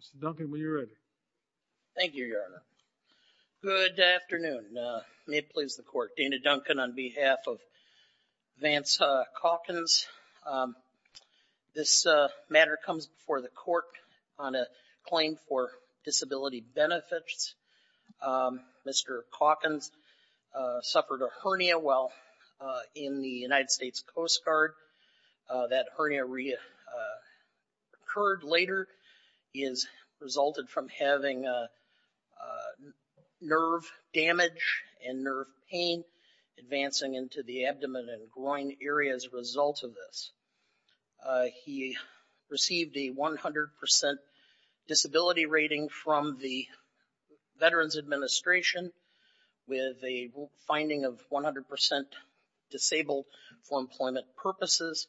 Mr. Duncan, when you're ready. Thank you, Your Honor. Good afternoon. May it please the Court. Dana Duncan on behalf of Vance Caulkins. This matter comes before the Court on a claim for disability benefits. Mr. Caulkins suffered a hernia while in the United States Coast Guard. That hernia reoccurred later. He has resulted from having nerve damage and nerve pain advancing into the abdomen and groin area as a result of this. He received a 100% disability rating from the Veterans Administration with a finding of 100% disabled for employment purposes.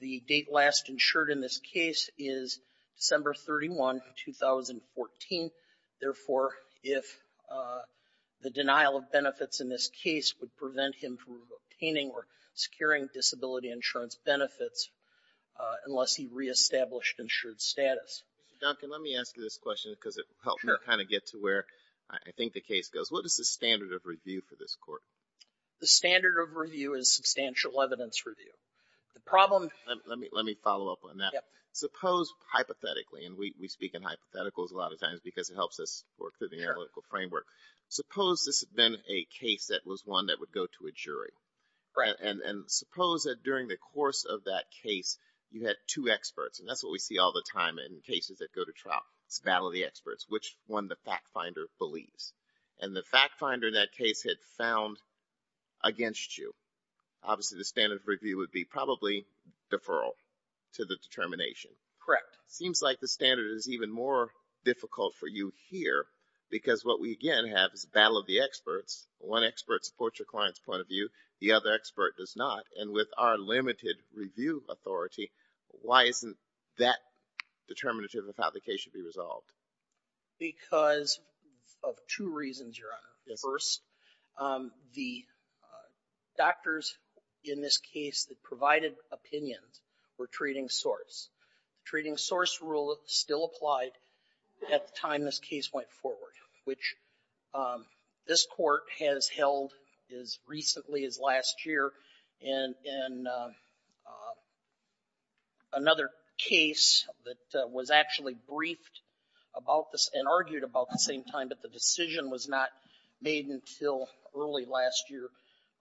The date last insured in this case is December 31, 2014. Therefore, if the denial of benefits in this case would prevent him from obtaining or securing disability insurance benefits unless he reestablished insured status. Mr. Duncan, let me ask you this question because it helps me kind of get to where I think the case goes. What is the standard of review for this Court? The standard of review is substantial evidence review. The problem... Let me follow up on that. Suppose hypothetically, and we speak in hypotheticals a lot of times because it helps us work through the analytical framework. Suppose this had been a case that was one that would go to a jury. Right. And suppose that during the course of that case, you had two experts. And that's what we see all the time in cases that go to trial. It's battle of the experts. Which one the fact finder believes? And the fact finder in that case had found against you. Obviously, the standard of review would be probably deferral to the determination. Correct. Seems like the standard is even more difficult for you here because what we again have is battle of the experts. One expert supports your client's point of view. The other expert does not. And with our limited review authority, why isn't that determinative of how the case should be resolved? Because of two reasons, Your Honor. Yes. First, the doctors in this case that provided opinions were treating source. The treating source rule still applied at the time this case went forward, which this Court has held as recently as last year. And in another case that was actually briefed about this and argued about the same time, but the decision was not made until early last year,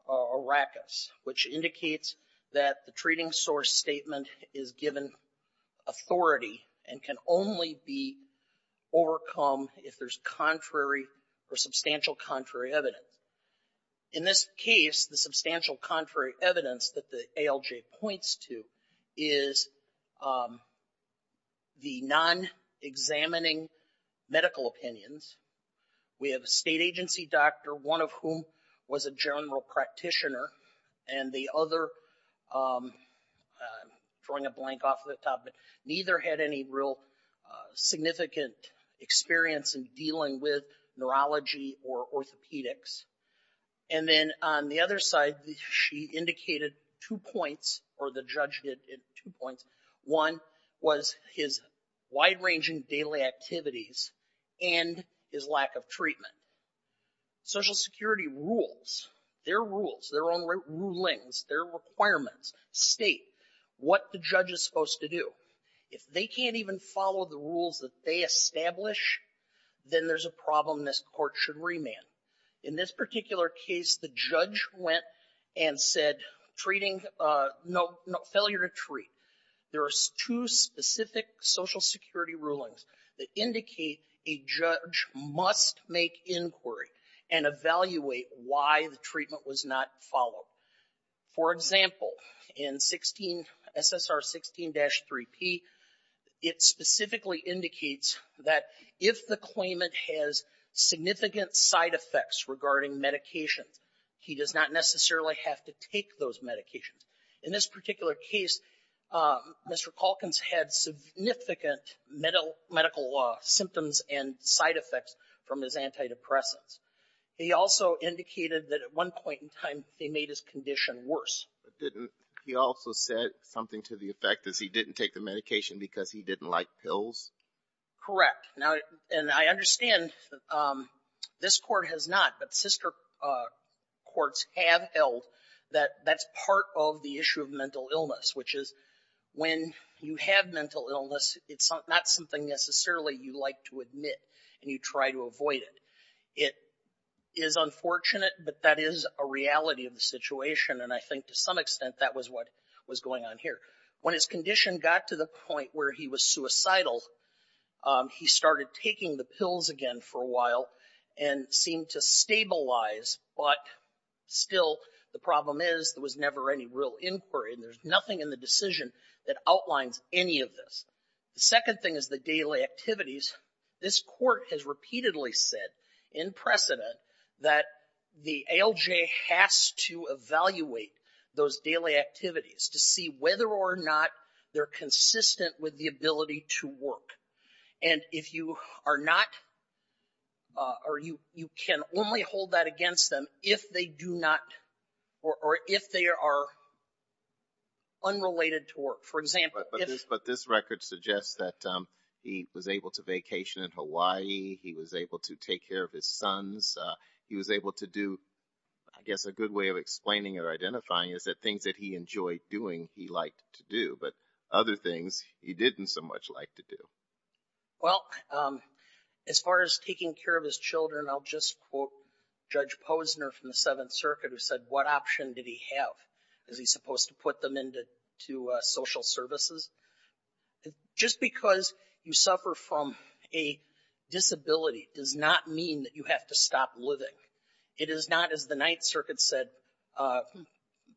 Arrakis, which indicates that the treating source statement is given authority and can only be overcome if there's contrary or substantial contrary evidence. In this case, the substantial contrary evidence that the ALJ points to is the non-examining medical opinions. We have a state agency doctor, one of whom was a general practitioner, and the other, I'm drawing a blank off the top, but neither had any real significant experience in dealing with neurology or orthopedics. And then on the other side, she indicated two points, or the judge did, two points. One was his wide-ranging daily activities and his lack of treatment. Social Security rules, their rules, their own rulings, their requirements state what the judge is supposed to do. If they can't even follow the rules that they establish, then there's a problem, and this Court should remand. In this particular case, the judge went and said failure to treat. There are two specific Social Security rulings that indicate a judge must make inquiry and evaluate why the treatment was not followed. For example, in SSR 16-3P, it specifically indicates that if the claimant has significant side effects regarding medications, he does not necessarily have to take those medications. In this particular case, Mr. Calkins had significant medical symptoms and side effects from his condition worse. He also said something to the effect that he didn't take the medication because he didn't like pills? Correct. And I understand this Court has not, but sister courts have held that that's part of the issue of mental illness, which is when you have mental illness, it's not something necessarily you like to admit and you try to avoid it. It is unfortunate, but that is a reality of the situation, and I think to some extent that was what was going on here. When his condition got to the point where he was suicidal, he started taking the pills again for a while and seemed to stabilize, but still the problem is there was never any real inquiry, and there's nothing in the decision that outlines any of this. The second thing is the daily activities. This Court has repeatedly said, in precedent, that the ALJ has to evaluate those daily activities to see whether or not they're consistent with the ability to work. And if you are not, or you can only hold that against them if they do not, or if they are unrelated to work. For example, if... But this record suggests that he was able to vacation in Hawaii. He was able to take care of his sons. He was able to do, I guess a good way of explaining or identifying is that things that he enjoyed doing, he liked to do, but other things he didn't so much like to do. Well, as far as taking care of his children, I'll just quote Judge Posner from the Seventh Circuit who said, what option did he have? Is he supposed to put them into social services? Just because you suffer from a disability does not mean that you have to stop living. It is not, as the Ninth Circuit said,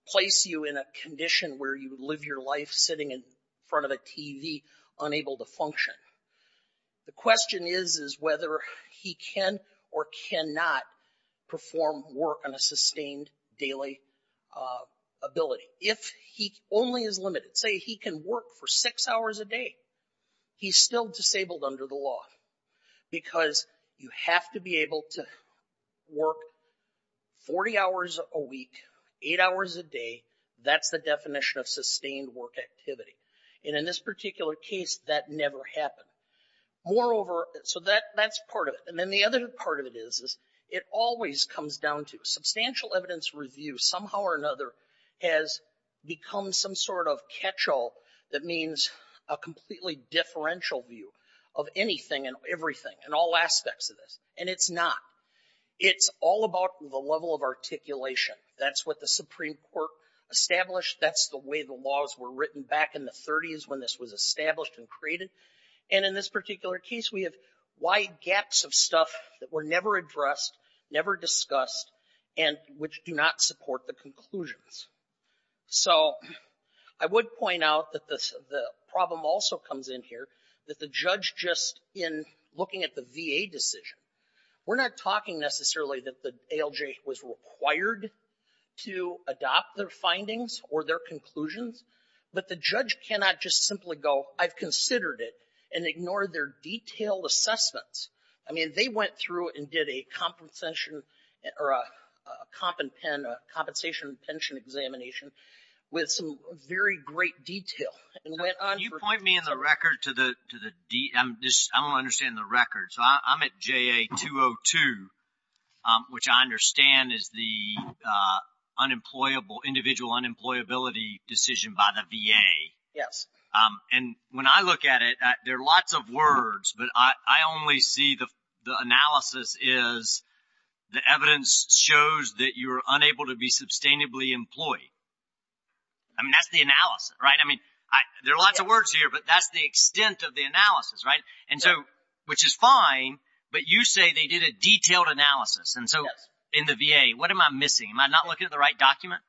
place you in a condition where you live your life sitting in front of a TV, unable to function. The question is, is whether he can or cannot perform work on a sustained daily ability. If he only is limited, say he can work for six hours a day, he's still disabled under the law because you have to be able to work 40 hours a week, eight hours a day. That's the definition of sustained work activity. And in this particular case, that never happened. Moreover, so that's part of it. And then the other part of it is, it always comes down to substantial evidence review somehow or another has become some sort of catch-all that means a completely differential view of anything and everything and all aspects of this. And it's not. It's all about the level of articulation. That's what the Supreme Court established. That's the way the laws were written back in the 30s when this was established and created. And in this particular case, we have wide gaps of stuff that were never addressed, never discussed, and which do not support the conclusions. So I would point out that the problem also comes in here, that the judge just in looking at the VA decision, we're not talking necessarily that the ALJ was required to adopt their findings or their conclusions, but the judge cannot just simply go, I've considered it and ignore their detailed assessments. I mean, they went through and did a compensation, or a compensation and pension examination with some very great detail and went on for- Can you point me in the record to the, I don't understand the record. So I'm at JA-202, which I understand is the individual unemployability decision by the VA. Yes. And when I look at it, there are lots of words, but I only see the analysis is the evidence shows that you're unable to be sustainably employed. I mean, that's the analysis, right? I mean, there are lots of words here, but that's the extent of the analysis, right? And so, which is fine, but you say they did a detailed analysis. And so in the VA, what am I missing? Am I not looking at the right document?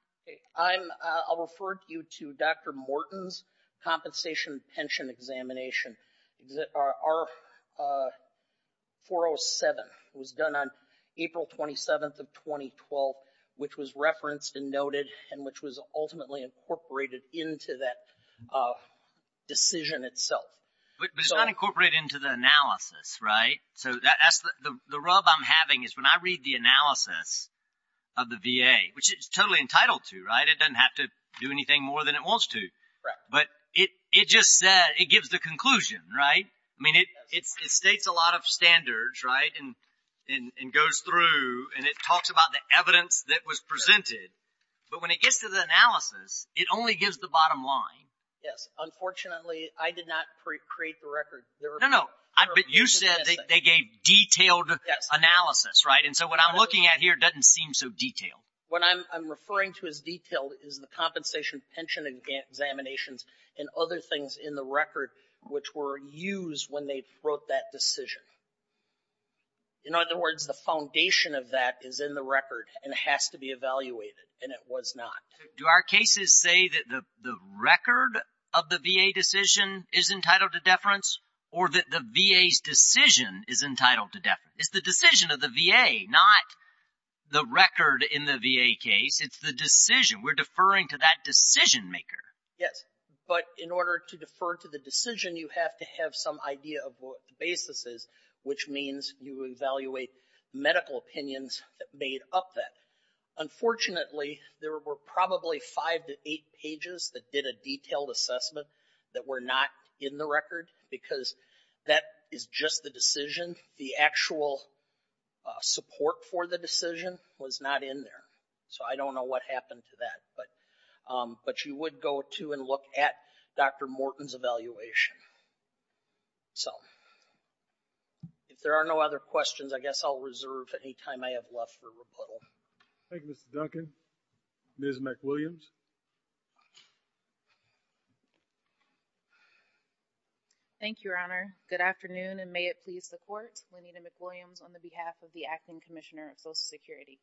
I'll refer you to Dr. Morton's compensation and pension examination. Our 407 was done on April 27th of 2012, which was referenced and noted, and which was ultimately incorporated into that decision itself. But it's not incorporated into the analysis, right? So that's the rub I'm having is when I read the analysis of the VA, which it's totally entitled to, right? It doesn't have to do anything more than it wants to. But it just said, it gives the conclusion, right? I mean, it states a lot of standards, right? And goes through and it talks about the evidence that was presented. But when it gets to the analysis, it only gives the bottom line. Yes. Unfortunately, I did not create the record. No, no. But you said they gave detailed analysis, right? And so what I'm looking at here doesn't seem so detailed. What I'm referring to as detailed is the compensation, pension examinations, and other things in the record, which were used when they wrote that decision. In other words, the foundation of that is in the record and has to be evaluated, and it was not. Do our cases say that the record of the VA decision is entitled to deference or that the VA's decision is entitled to deference? It's the decision of the VA, not the record in the VA case. It's the decision. We're deferring to that decision maker. Yes. But in order to defer to the decision, you have to have some idea of what the basis is, which means you evaluate medical opinions that made up that. Unfortunately, there were probably five to eight pages that did a detailed assessment that were not in the record because that is just the decision. The actual support for the decision was not in there. So I don't know what happened to that. But you would go to and look at Dr. Morton's evaluation. So if there are no other questions, I guess I'll reserve any time I have left for rebuttal. Thank you, Mr. Duncan. Ms. McWilliams. Thank you, Your Honor. Good afternoon, and may it please the Court. Lenita McWilliams on the behalf of the Acting Commissioner of Social Security.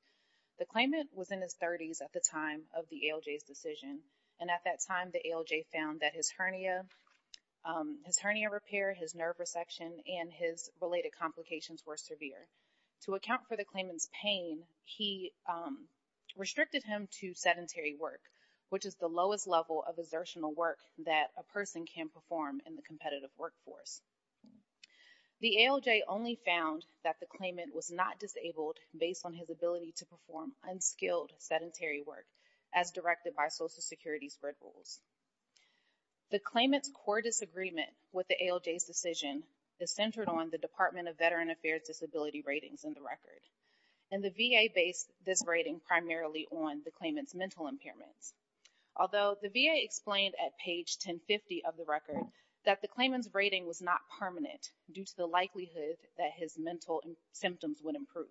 The claimant was in his 30s at the time of the ALJ's decision, and at that time, the ALJ found that his hernia repair, his nerve resection, and his related complications were severe. To account for the claimant's disability, he restricted him to sedentary work, which is the lowest level of exertional work that a person can perform in the competitive workforce. The ALJ only found that the claimant was not disabled based on his ability to perform unskilled sedentary work as directed by Social Security's Red Rules. The claimant's core disagreement with the ALJ's decision is centered on the Department of Veteran Affairs disability ratings in the record, and the VA based this rating primarily on the claimant's mental impairments, although the VA explained at page 1050 of the record that the claimant's rating was not permanent due to the likelihood that his mental symptoms would improve.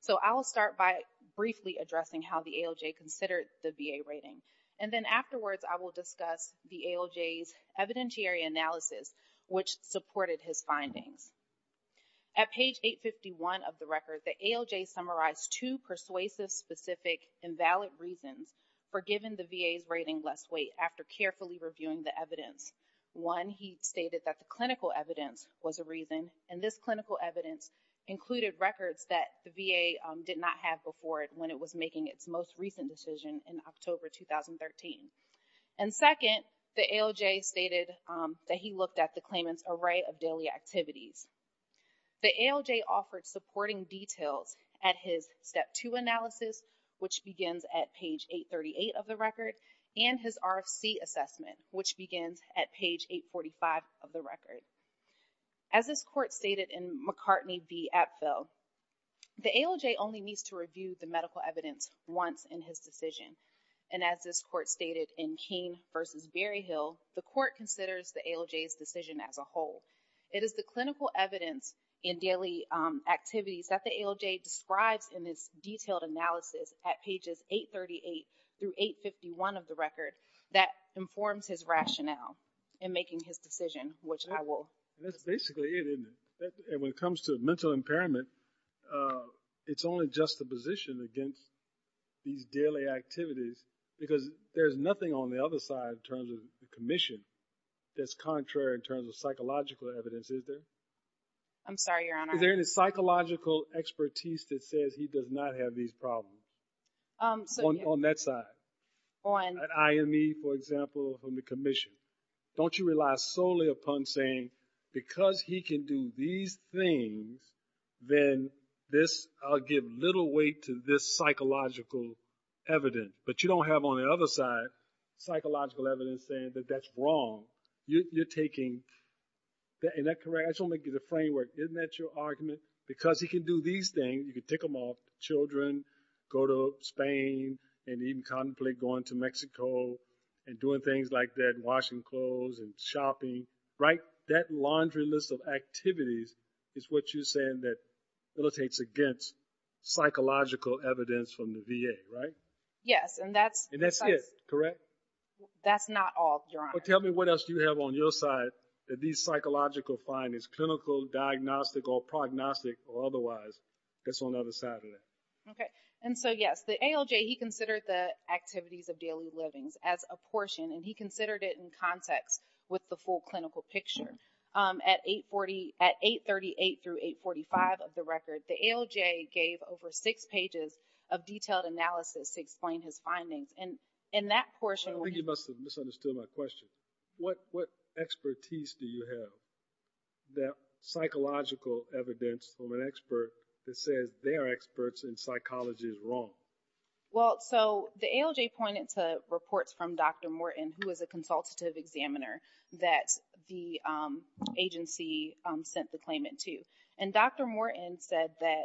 So I'll start by briefly addressing how the ALJ considered the VA rating, and then afterwards, I will discuss the ALJ's evidentiary analysis, which supported his findings. At page 851 of the record, the ALJ summarized two persuasive, specific, invalid reasons for giving the VA's rating less weight after carefully reviewing the evidence. One, he stated that the clinical evidence was a reason, and this clinical evidence included records that the VA did not have before it when it was making its most recent decision in October 2013. And second, the ALJ stated that he looked at the claimant's array of daily activities. The ALJ offered supporting details at his step two analysis, which begins at page 838 of the record, and his RFC assessment, which begins at page 845 of the record. As this court stated in McCartney v. Apfel, the ALJ only needs to review the medical evidence once in his decision, and as this court stated in Keene v. Berryhill, the court considers the ALJ's decision as a whole. It is the clinical evidence in daily activities that the ALJ describes in this detailed analysis at pages 838 through 851 of the record that informs his rationale in making his decision, which I will... That's basically it, isn't it? And when it comes to mental impairment, it's only just the position against these daily activities, because there's nothing on the other side in terms of the commission that's contrary in terms of psychological evidence, is there? I'm sorry, Your Honor. Is there any psychological expertise that says he does not have these problems on that side? On... Don't you rely solely upon saying, because he can do these things, then this... I'll give little weight to this psychological evidence. But you don't have on the other side psychological evidence saying that that's wrong. You're taking... Is that correct? I just want to give you the framework. Isn't that your argument? Because he can do these things, you can tick him off, children, go to Spain, and even contemplate going to Mexico and doing things like that, washing clothes and shopping, right? That laundry list of activities is what you're saying that militates against psychological evidence from the VA, right? Yes, and that's... And that's it, correct? That's not all, Your Honor. But tell me what else do you have on your side that these psychological findings, clinical, diagnostic, or prognostic, or otherwise, that's on the other side of that? Okay. And so, yes, the ALJ, he considered the activities of daily livings as a portion, and he considered it in context with the full clinical picture. At 830... At 838 through 845 of the record, the ALJ gave over six pages of detailed analysis to explain his findings. And in that portion... I think you must have misunderstood my question. What expertise do you have that psychological evidence from an expert that says they are in psychology is wrong? Well, so the ALJ pointed to reports from Dr. Morton, who is a consultative examiner, that the agency sent the claimant to. And Dr. Morton said that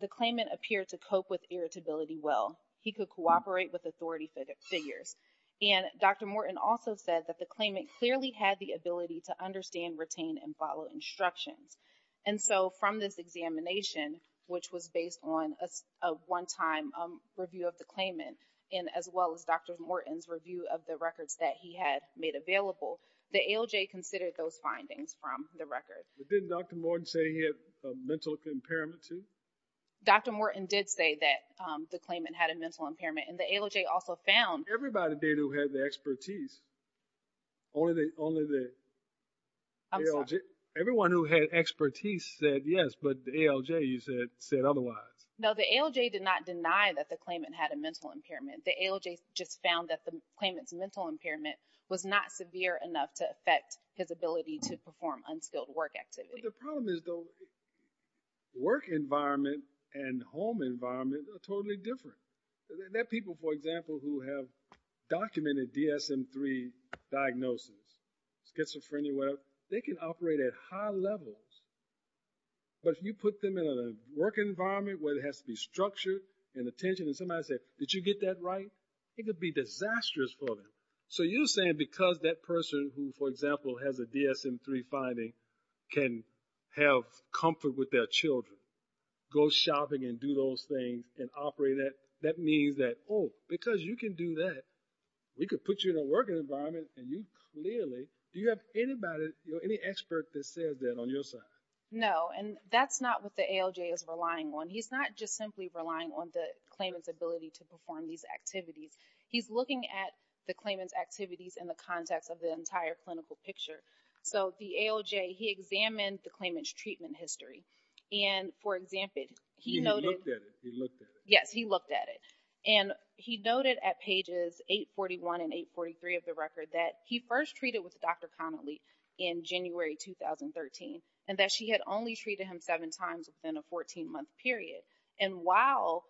the claimant appeared to cope with irritability well. He could cooperate with authority figures. And Dr. Morton also said that the claimant clearly had the ability to understand, retain, and follow instructions. And so, from this examination, which was based on a one-time review of the claimant, and as well as Dr. Morton's review of the records that he had made available, the ALJ considered those findings from the record. But didn't Dr. Morton say he had a mental impairment, too? Dr. Morton did say that the claimant had a mental impairment, and the ALJ also found... Everybody did who had the expertise, only the ALJ... Everyone who had expertise said yes, but the ALJ, you said, said otherwise. No, the ALJ did not deny that the claimant had a mental impairment. The ALJ just found that the claimant's mental impairment was not severe enough to affect his ability to perform unskilled work activity. The problem is, though, work environment and home environment are totally different. There are people, for example, who have documented DSM-3 diagnosis, schizophrenia, whatever. They can operate at high levels, but if you put them in a work environment where it has to be structured, and attention, and somebody said, did you get that right? It could be disastrous for them. So you're saying because that person who, for example, has a DSM-3 finding can have comfort with their children, go shopping and do those things, and operate at... That means that, oh, because you can do that, we could put you in a working environment and you clearly... Do you have anybody, any expert that says that on your side? No, and that's not what the ALJ is relying on. He's not just simply relying on the claimant's ability to perform these activities. He's looking at the claimant's activities in the context of the entire clinical picture. So the ALJ, he examined the claimant's treatment history. And for example, he noted... He looked at it, he looked at it. Yes, he looked at it. And he noted at pages 841 and 843 of the record that he first treated with Dr. Connolly in January 2013, and that she had only treated him seven times within a 14-month period. And while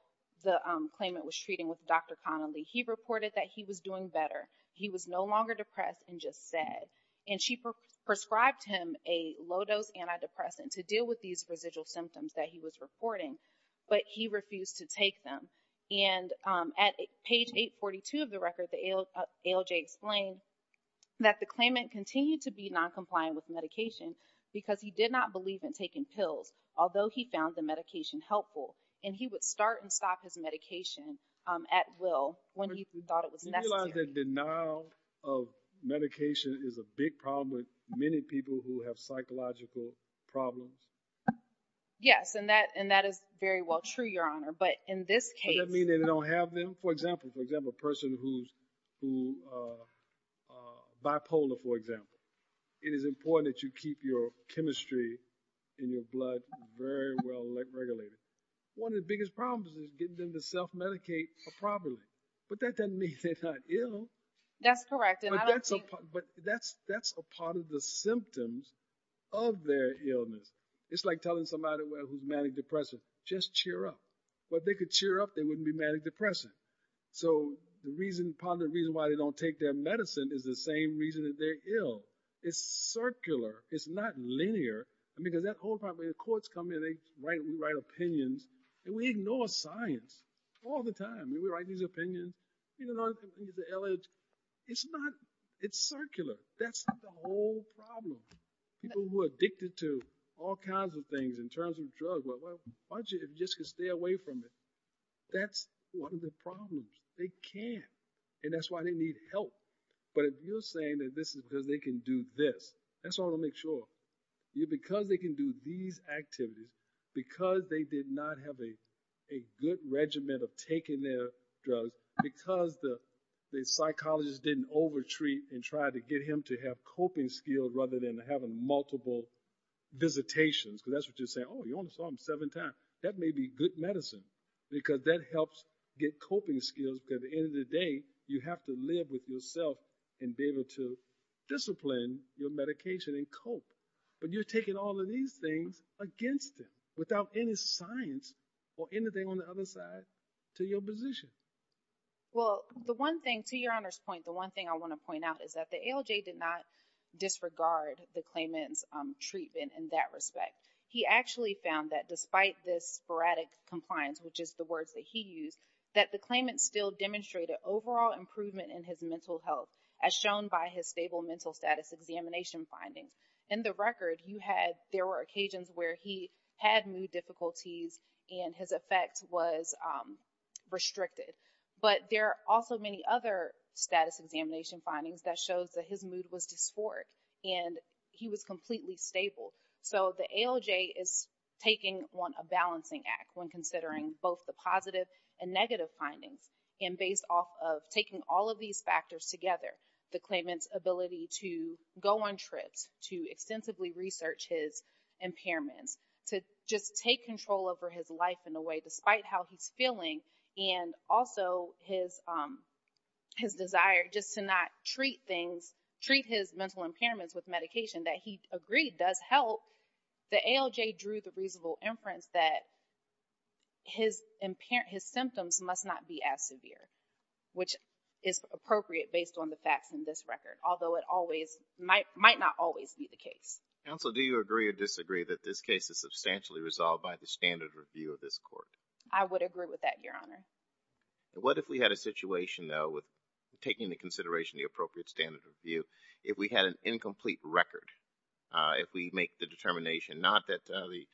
the claimant was treating with Dr. Connolly, he reported that he was doing better. He was no longer depressed and just sad. And she prescribed him a low-dose antidepressant to deal with these residual symptoms that he was reporting, but he refused to take them. And at page 842 of the record, the ALJ explained that the claimant continued to be noncompliant with medication because he did not believe in taking pills, although he found the medication helpful. And he would start and stop his medication at will when he thought it was necessary. Do you realize that denial of medication is a big problem with many people who have psychological problems? Yes, and that is very well true, Your Honor. But in this case... Does that mean they don't have them? For example, a person who's bipolar, for example. It is important that you keep your chemistry and your blood very well regulated. One of the biggest problems is getting them to self-medicate properly. But that doesn't mean they're not ill. That's correct. But that's a part of the symptoms of their illness. It's like telling somebody who's manic-depressive, just cheer up. But if they could cheer up, they wouldn't be manic-depressive. So the reason, part of the reason, why they don't take their medicine is the same reason that they're ill. It's circular. It's not linear. I mean, because that whole problem, when the courts come in, they write opinions. And we ignore science all the time. I mean, we write these opinions. You know, the ALJ, it's not, it's circular. That's the whole problem. People who are addicted to all kinds of things in terms of drugs, why don't you just stay away from it? That's one of the problems. They can't. And that's why they need help. But if you're saying that this is because they can do this, that's what I want to make sure. Because they can do these activities, because they did not have a good regimen of taking their drugs, because the psychologist didn't over-treat and try to get him to have coping skills rather than having multiple visitations, because that's what you're saying. Oh, you only saw him seven times. That may be good medicine, because that helps get coping skills. Because at the end of the day, you have to live with yourself and be able to discipline your medication and cope. But you're taking all of these things against them without any science or anything on the other side to your position. Well, the one thing, to Your Honor's point, the one thing I want to point out is that the ALJ did not disregard the claimant's treatment in that respect. He actually found that despite this sporadic compliance, which is the words that he used, that the claimant still demonstrated overall improvement in his mental health as shown by his stable mental status examination findings. In the record, you had, there were occasions where he had mood difficulties and his effect was restricted. But there are also many other status examination findings that shows that his mood was dysphoric and he was completely stable. So the ALJ is taking on a balancing act when considering both the positive and negative findings. And based off of taking all of these factors together, the claimant's ability to go on trips, to extensively research his impairments, to just take control over his life in a way, despite how he's feeling, and also his desire just to not treat things, treat his mental impairments with medication that he agreed does help, the ALJ drew the reasonable inference that his symptoms must not be as severe, which is appropriate based on the facts in this record, although it might not always be the case. Counsel, do you agree or disagree that this case is substantially resolved by the standard review of this court? I would agree with that, Your Honor. What if we had a situation though with taking into consideration the appropriate standard review, if we had an incomplete record, if we make the determination, not that the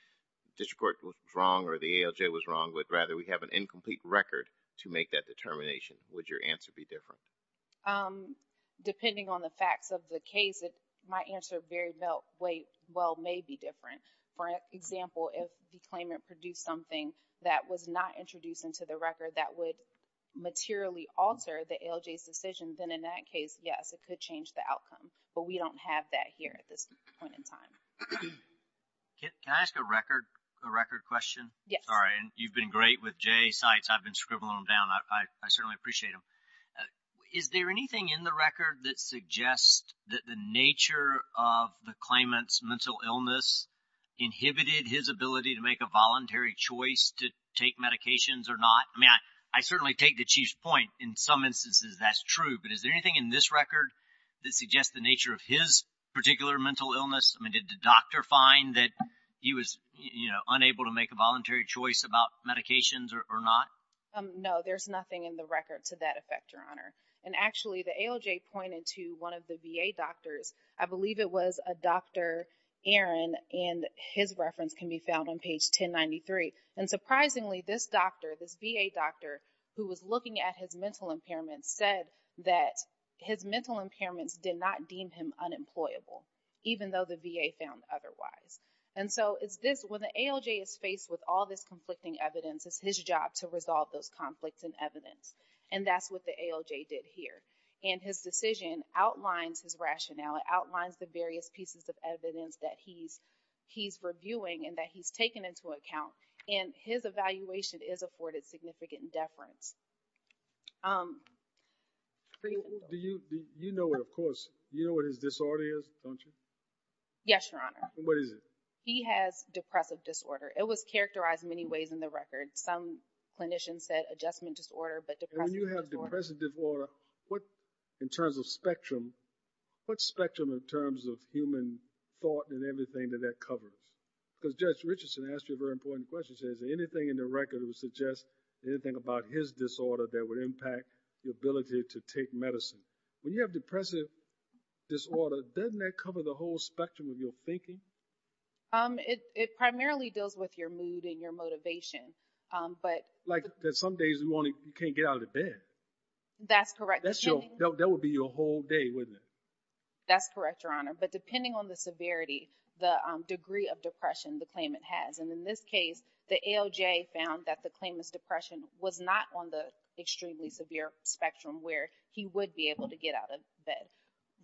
district court was wrong or the ALJ was wrong, but rather we have an incomplete record to make that determination, would your answer be different? Depending on the facts of the case, my answer very well may be different. For example, if the claimant produced something that was not introduced into the record that would materially alter the ALJ's decision, then in that case, yes, it could change the outcome, but we don't have that here at this point in time. Can I ask a record question? Yes. Sorry, you've been great with Jay's sites. I've been scribbling them down. I certainly appreciate them. Is there anything in the record that suggests that the nature of the claimant's mental illness inhibited his ability to make a voluntary choice to take medications or not? I mean, I certainly take the Chief's point. In some instances, that's true, but is there anything in this record that suggests the nature of his particular mental illness? I mean, did the doctor find that he was, you know, unable to make a voluntary choice about medications or not? No, there's nothing in the record to that effect, Your Honor. And actually, the ALJ pointed to one of the VA doctors. I believe it was a Dr. Aaron, and his reference can be found on page 1093. And surprisingly, this doctor, this VA doctor who was looking at his mental impairment said that his mental impairments did not deem him unemployable, even though the VA found otherwise. And so it's this, when the ALJ is faced with all this conflicting evidence, it's his job to resolve those conflicts and evidence. And that's what the ALJ did here. And his decision outlines his rationale. It outlines the various pieces of evidence that he's reviewing and that he's taking into account. And his evaluation is afforded significant deference. Do you know what, of course, you know what his disorder is, don't you? Yes, Your Honor. What is it? He has depressive disorder. It was characterized many ways in the record. Some clinicians said adjustment disorder, but depressive disorder. When you have depressive disorder, what, in terms of spectrum, what spectrum in terms of human thought and everything that that covers? Because Judge Richardson asked you a very important question. He said, is there anything in the record that would suggest anything about his disorder that would impact the ability to take medicine? When you have depressive disorder, doesn't that cover the whole spectrum of your thinking? It primarily deals with your mood and your motivation. But... Like that some days in the morning, you can't get out of the bed. That's correct. That would be your whole day, wouldn't it? That's correct, Your Honor. But depending on the severity, the degree of depression, the claimant has. And in this case, the ALJ found that the claimant's depression was not on the extremely severe spectrum where he would be able to get out of bed.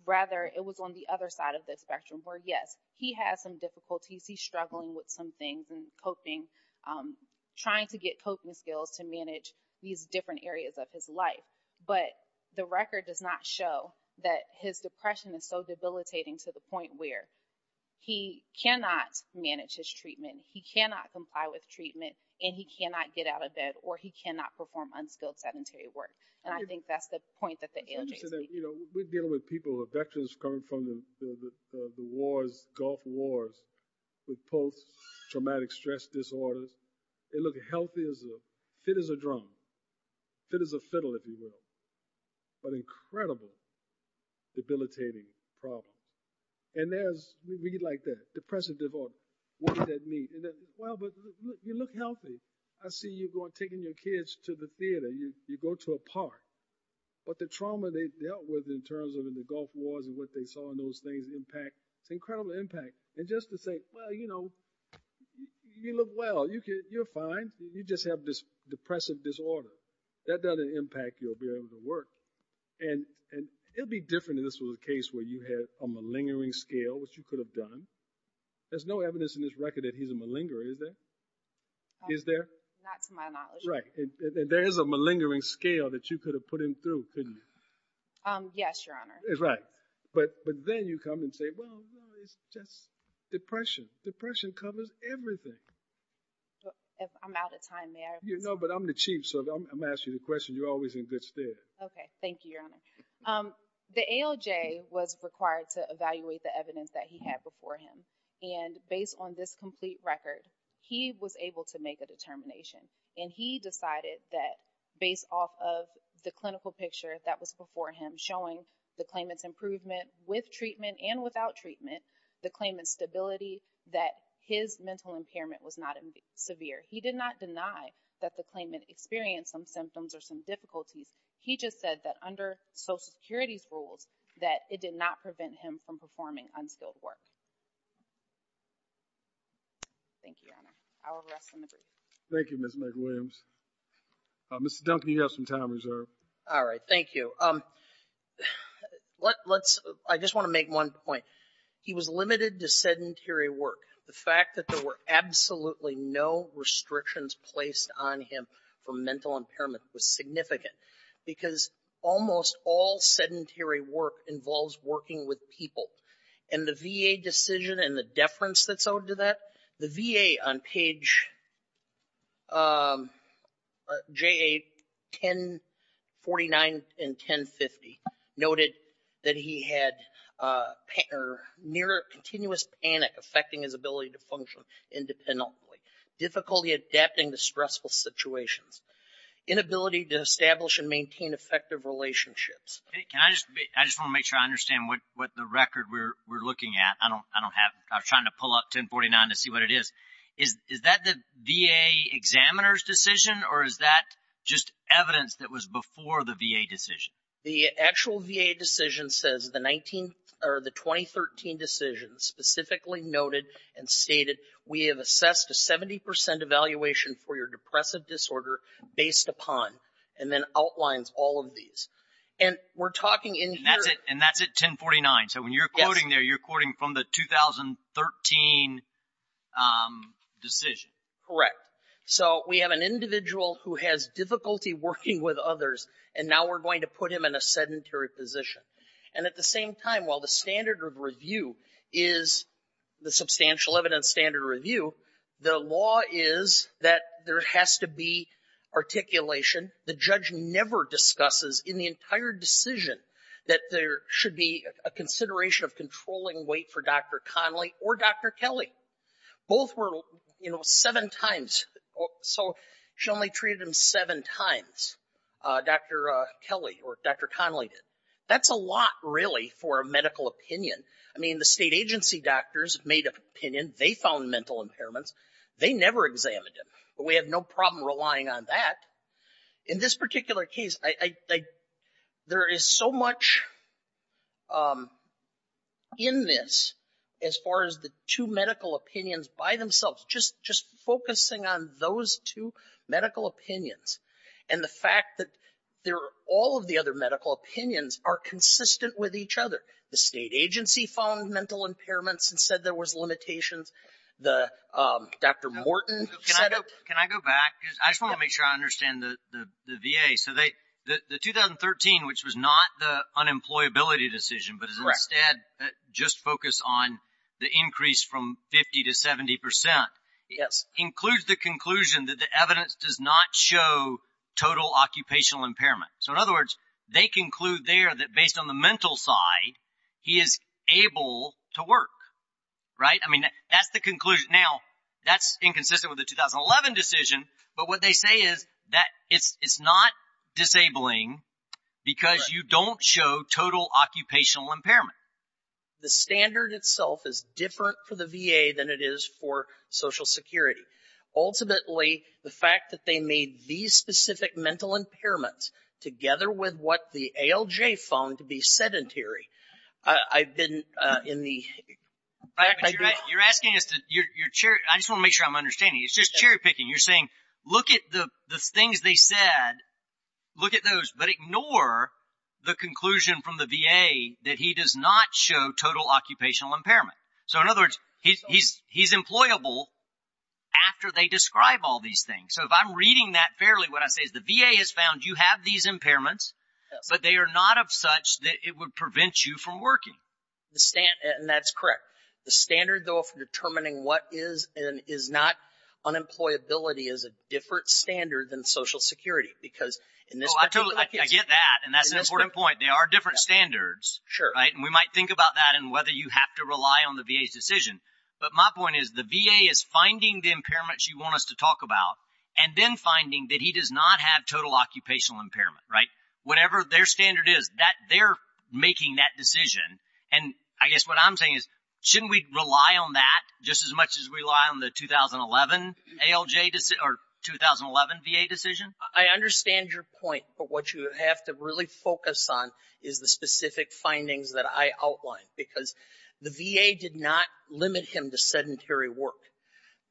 Rather, it was on the other side of the spectrum where, yes, he has some difficulties. He's struggling with some things and coping, trying to get coping skills to manage these different areas of his life. But the record does not show that his depression is so debilitating to the point where he cannot manage his treatment. He cannot comply with treatment and he cannot get out of bed or he cannot perform unskilled sedentary work. And I think that's the point that the ALJ is making. You know, we're dealing with people who are veterans coming from the wars, Gulf Wars, with post-traumatic stress disorders. They look healthy as a... Fit as a drum. Fit as a fiddle, if you will. But incredible debilitating problem. And there's... We get like that. Depressive disorder. What does that mean? And then, well, but you look healthy. I see you taking your kids to the theater. You go to a park. But the trauma they dealt with in terms of in the Gulf Wars and what they saw in those things impact. It's incredible impact. And just to say, well, you know, you look well. You're fine. You just have this depressive disorder. That doesn't impact your ability to work. And it'd be different if this was a case where you had a malingering scale, which you could have done. There's no evidence in this record that he's a malingerer, is there? Not to my knowledge. Right. And there is a malingering scale that you could have put him through, couldn't you? Yes, Your Honor. That's right. But then you come and say, well, it's just depression. Depression covers everything. I'm out of time there. You know, but I'm the chief. So I'm asking you the question. You're always in good stead. Okay. Thank you, Your Honor. The ALJ was required to evaluate the evidence that he had before him. And based on this complete record, he was able to make a determination. And he decided that, based off of the clinical picture that was before him, showing the claimant's improvement with treatment and without treatment, the claimant's stability, that his mental impairment was not severe. He did not deny that the claimant experienced some symptoms or some difficulties. He just said that under Social Security's rules, that it did not prevent him from performing unskilled work. Thank you, Your Honor. I will rest in the brief. Thank you, Ms. McWilliams. Mr. Duncan, you have some time reserved. All right. Thank you. Let's, I just want to make one point. He was limited to sedentary work. The fact that there were absolutely no restrictions placed on him for mental impairment was significant because almost all sedentary work involves working with people. And the VA just said, and the deference that's owed to that, the VA on page JA 1049 and 1050 noted that he had near continuous panic affecting his ability to function independently. Difficulty adapting to stressful situations. Inability to establish and maintain effective relationships. Can I just, I just want to make sure I understand what the record we're looking at. I was trying to pull up 1049 to see what it is. Is that the VA examiner's decision or is that just evidence that was before the VA decision? The actual VA decision says the 19 or the 2013 decision specifically noted and stated we have assessed a 70% evaluation for your depressive disorder based upon and then outlines all of these. And we're talking in here. And that's it. And that's it, 1049. So when you're quoting there, you're quoting from the 2013 decision. Correct. So we have an individual who has difficulty working with others. And now we're going to put him in a sedentary position. And at the same time, while the standard of review is the substantial evidence standard review, the law is that there has to be articulation. The judge never discusses in the entire decision that there should be a consideration of controlling weight for Dr. Connolly or Dr. Kelly. Both were seven times. So she only treated him seven times, Dr. Kelly or Dr. Connolly did. That's a lot, really, for a medical opinion. I mean, the state agency doctors made an opinion. They found mental impairments. They never examined him. But we have no problem relying on that. In this particular case, there is so much in this as far as the two medical opinions by themselves, just focusing on those two medical opinions. And the fact that all of the other medical opinions are consistent with each other. The state agency found mental impairments and said there was limitations. The Dr. Morton set up. Can I go back? I just want to make sure I understand the VA. So the 2013, which was not the unemployability decision, but instead just focus on the increase from 50 to 70 percent, includes the conclusion that the evidence does not show total occupational impairment. So in other words, they conclude there that based on the mental side, he is able to work, right? I mean, that's the conclusion. Now, that's inconsistent with the 2011 decision. But what they say is that it's not disabling because you don't show total occupational impairment. The standard itself is different for the VA than it is for Social Security. Ultimately, the fact that they made these specific mental impairments together with what the ALJ found to be sedentary. I've been in the. You're asking us to your chair. I just want to make sure I'm understanding. It's just cherry picking. You're saying look at the things they said. Look at those, but ignore the conclusion from the VA that he does not show total occupational impairment. So in other words, he's employable after they describe all these things. So if I'm reading that fairly, what I say is the VA has found you have these impairments, but they are not of such that it would prevent you from working. And that's correct. The standard, though, for determining what is and is not unemployability is a different standard than Social Security, because I get that. And that's an important point. They are different standards, right? And we might think about that and whether you have to rely on the VA's decision. But my point is the VA is finding the impairments you want us to talk about and then finding that he does not have total occupational impairment, right? Whatever their standard is that they're making that decision. And I guess what I'm saying is shouldn't we rely on that just as much as we rely on the 2011 ALJ or 2011 VA decision? I understand your point. But what you have to really focus on is the specific findings that I outlined, because the VA did not limit him to sedentary work.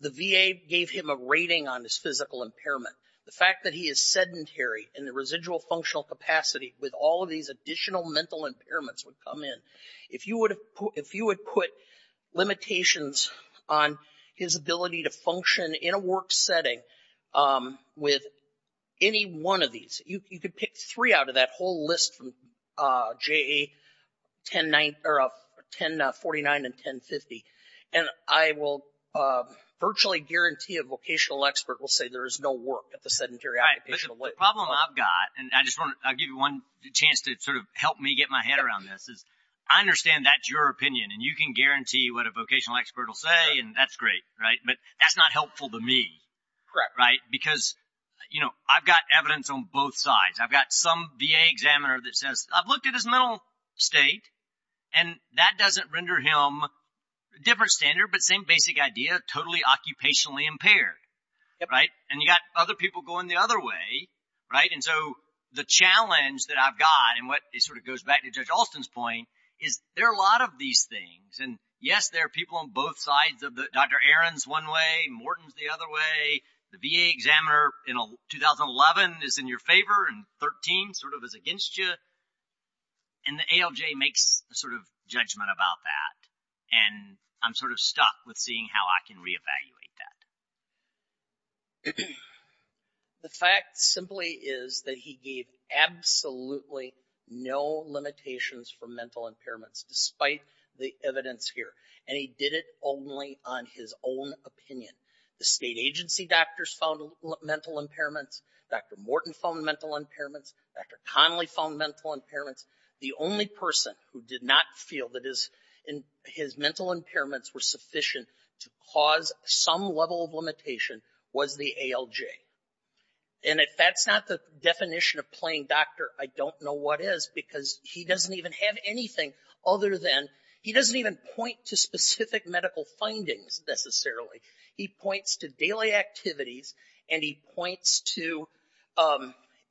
The VA gave him a rating on his physical impairment. The fact that he is sedentary in the residual functional capacity with all of these additional mental impairments would come in. If you would put limitations on his ability to function in a work setting with any one of these, you could pick three out of that whole list from JA 1049 and 1050. And I will virtually guarantee a vocational expert will say there is no work at the sedentary occupation. But the problem I've got, and I just want to give you one chance to sort of help me get my head around this, is I understand that's your opinion and you can guarantee what a vocational expert will say, and that's great, right? But that's not helpful to me, right? Because, you know, I've got evidence on both sides. I've got some VA examiner that says I've looked at his mental state and that doesn't render him a different standard, but same basic idea, totally occupationally impaired, right? And you got other people going the other way, right? And so the challenge that I've got and what it sort of goes back to Judge Alston's point is there are a lot of these things. And yes, there are people on both sides of the Dr. Aaron's one way, Morton's the other way, the VA examiner in 2011 is in your favor and 13 sort of is against you. And the ALJ makes a sort of judgment about that. And I'm sort of stuck with seeing how I can reevaluate that. The fact simply is that he gave absolutely no limitations for mental impairments, despite the evidence here. And he did it only on his own opinion. The state agency doctors found mental impairments. Dr. Morton found mental impairments. Dr. Conley found mental impairments. The only person who did not feel that his mental impairments were sufficient to cause some level of limitation was the ALJ. And if that's not the definition of playing doctor, I don't know what is because he doesn't even have anything other than he doesn't even point to specific medical findings necessarily. He points to daily activities and he points to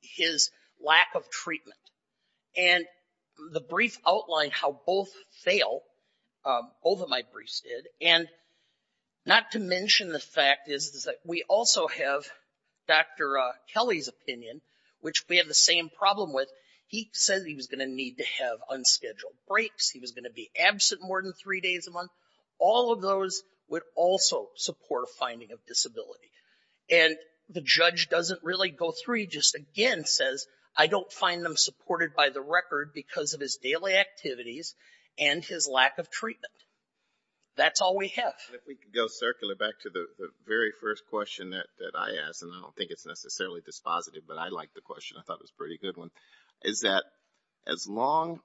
his lack of treatment. And the brief outlined how both fail. Both of my briefs did. And not to mention the fact is that we also have Dr. Kelly's opinion, which we have the same problem with. He said he was going to need to have unscheduled breaks. He was going to be absent more than three days a month. All of those would also support a finding of disability. And the judge doesn't really go through. He just again says, I don't find them supported by the record because of his daily activities and his lack of treatment. That's all we have. If we could go circular back to the very first question that I asked, and I don't think it's necessarily dispositive, but I like the question. I thought it was a pretty good one. Is that as long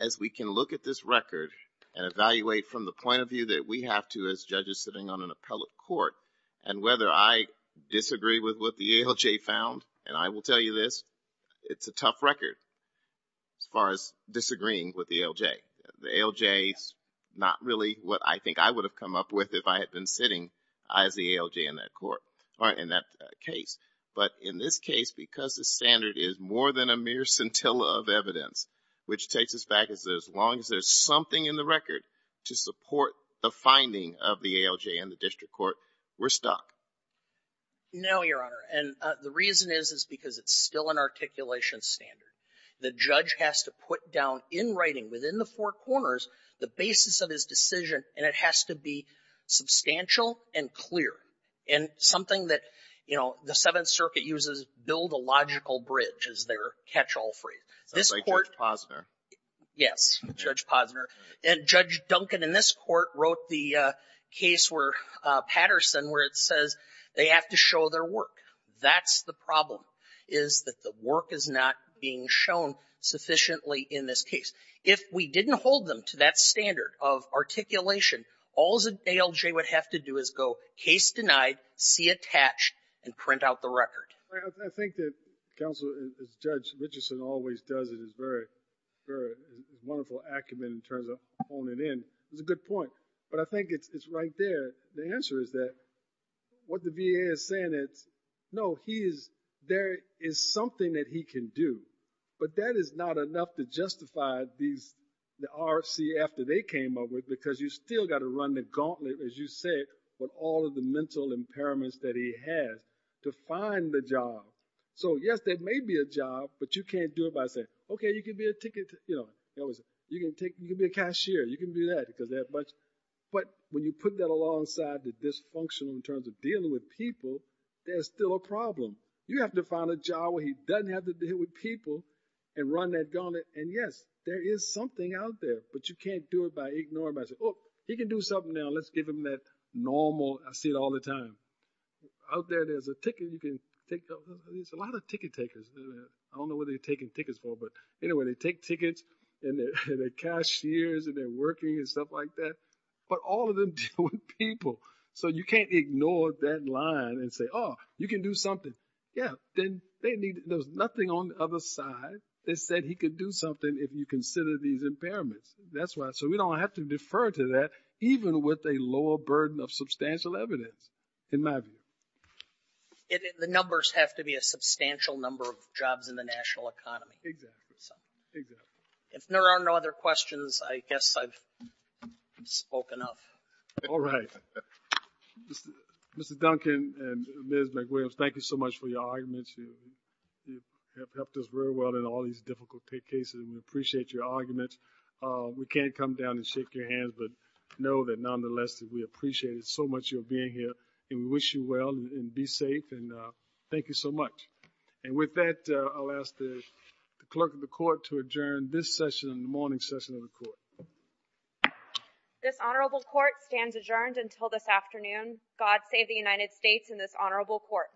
as we can look at this record and evaluate from the point of view that we have to as judges sitting on an appellate court and whether I disagree with what the ALJ found, and I will tell you this, it's a tough record as far as disagreeing with the ALJ. The ALJ is not really what I think I would have come up with if I had been sitting as the ALJ in that court, or in that case. But in this case, because the standard is more than a mere scintilla of evidence, which takes us back as long as there's something in the record to support the finding of the ALJ in the district court, we're stuck. No, Your Honor. And the reason is, is because it's still an articulation standard. The judge has to put down in writing within the four corners the basis of his decision, and it has to be substantial and clear and something that, you know, the Seventh Circuit uses build a logical bridge as their catch-all phrase. Sounds like Judge Posner. Yes, Judge Posner. And Judge Duncan in this court wrote the case where Patterson, where it says they have to show their work. That's the problem, is that the work is not being shown sufficiently in this case. If we didn't hold them to that standard of articulation, all the ALJ would have to do is go case denied, see attached, and print out the record. I think that Counsel, as Judge Richardson always does in his very, very wonderful acumen in terms of honing in. It's a good point, but I think it's right there. The answer is that what the VA is saying is, no, he is, there is something that he can do, but that is not enough to justify these, the RCF that they came up with, because you still got to run the gauntlet, as you say, with all of the mental impairments that he has to find the job. So, yes, there may be a job, but you can't do it by saying, okay, you can be a ticket, you know, you can take, you can be a cashier, you can do that, because they have much, but when you put that alongside the dysfunctional in terms of dealing with people, there's still a problem. You have to find a job where he doesn't have to deal with people and run that gauntlet, and yes, there is something out there, but you can't do it by ignoring, he can do something now, let's give him that normal, I see it all the time. Out there, there's a ticket, you can take, there's a lot of ticket takers, I don't know what they're taking tickets for, but anyway, they take tickets, and they're cashiers, and they're working and stuff like that, but all of them deal with people, so you can't ignore that line and say, oh, you can do something, yeah, then they need, there's nothing on the other side, they said he could do something if you consider these impairments, that's why, so we don't have to defer to that, even with a lower burden of substantial evidence, in my view. The numbers have to be a substantial number of jobs in the national economy. Exactly. If there are no other questions, I guess I've spoken enough. All right. Mr. Duncan and Ms. McWilliams, thank you so much for your arguments, you have helped us very well in all these difficult cases, and we appreciate your arguments, we can't come down and shake your hands, but know that nonetheless, we appreciate it so much, and we wish you well, and be safe, and thank you so much. And with that, I'll ask the clerk of the court to adjourn this session in the morning session of the court. This honorable court stands adjourned until this afternoon. God save the United States and this honorable court.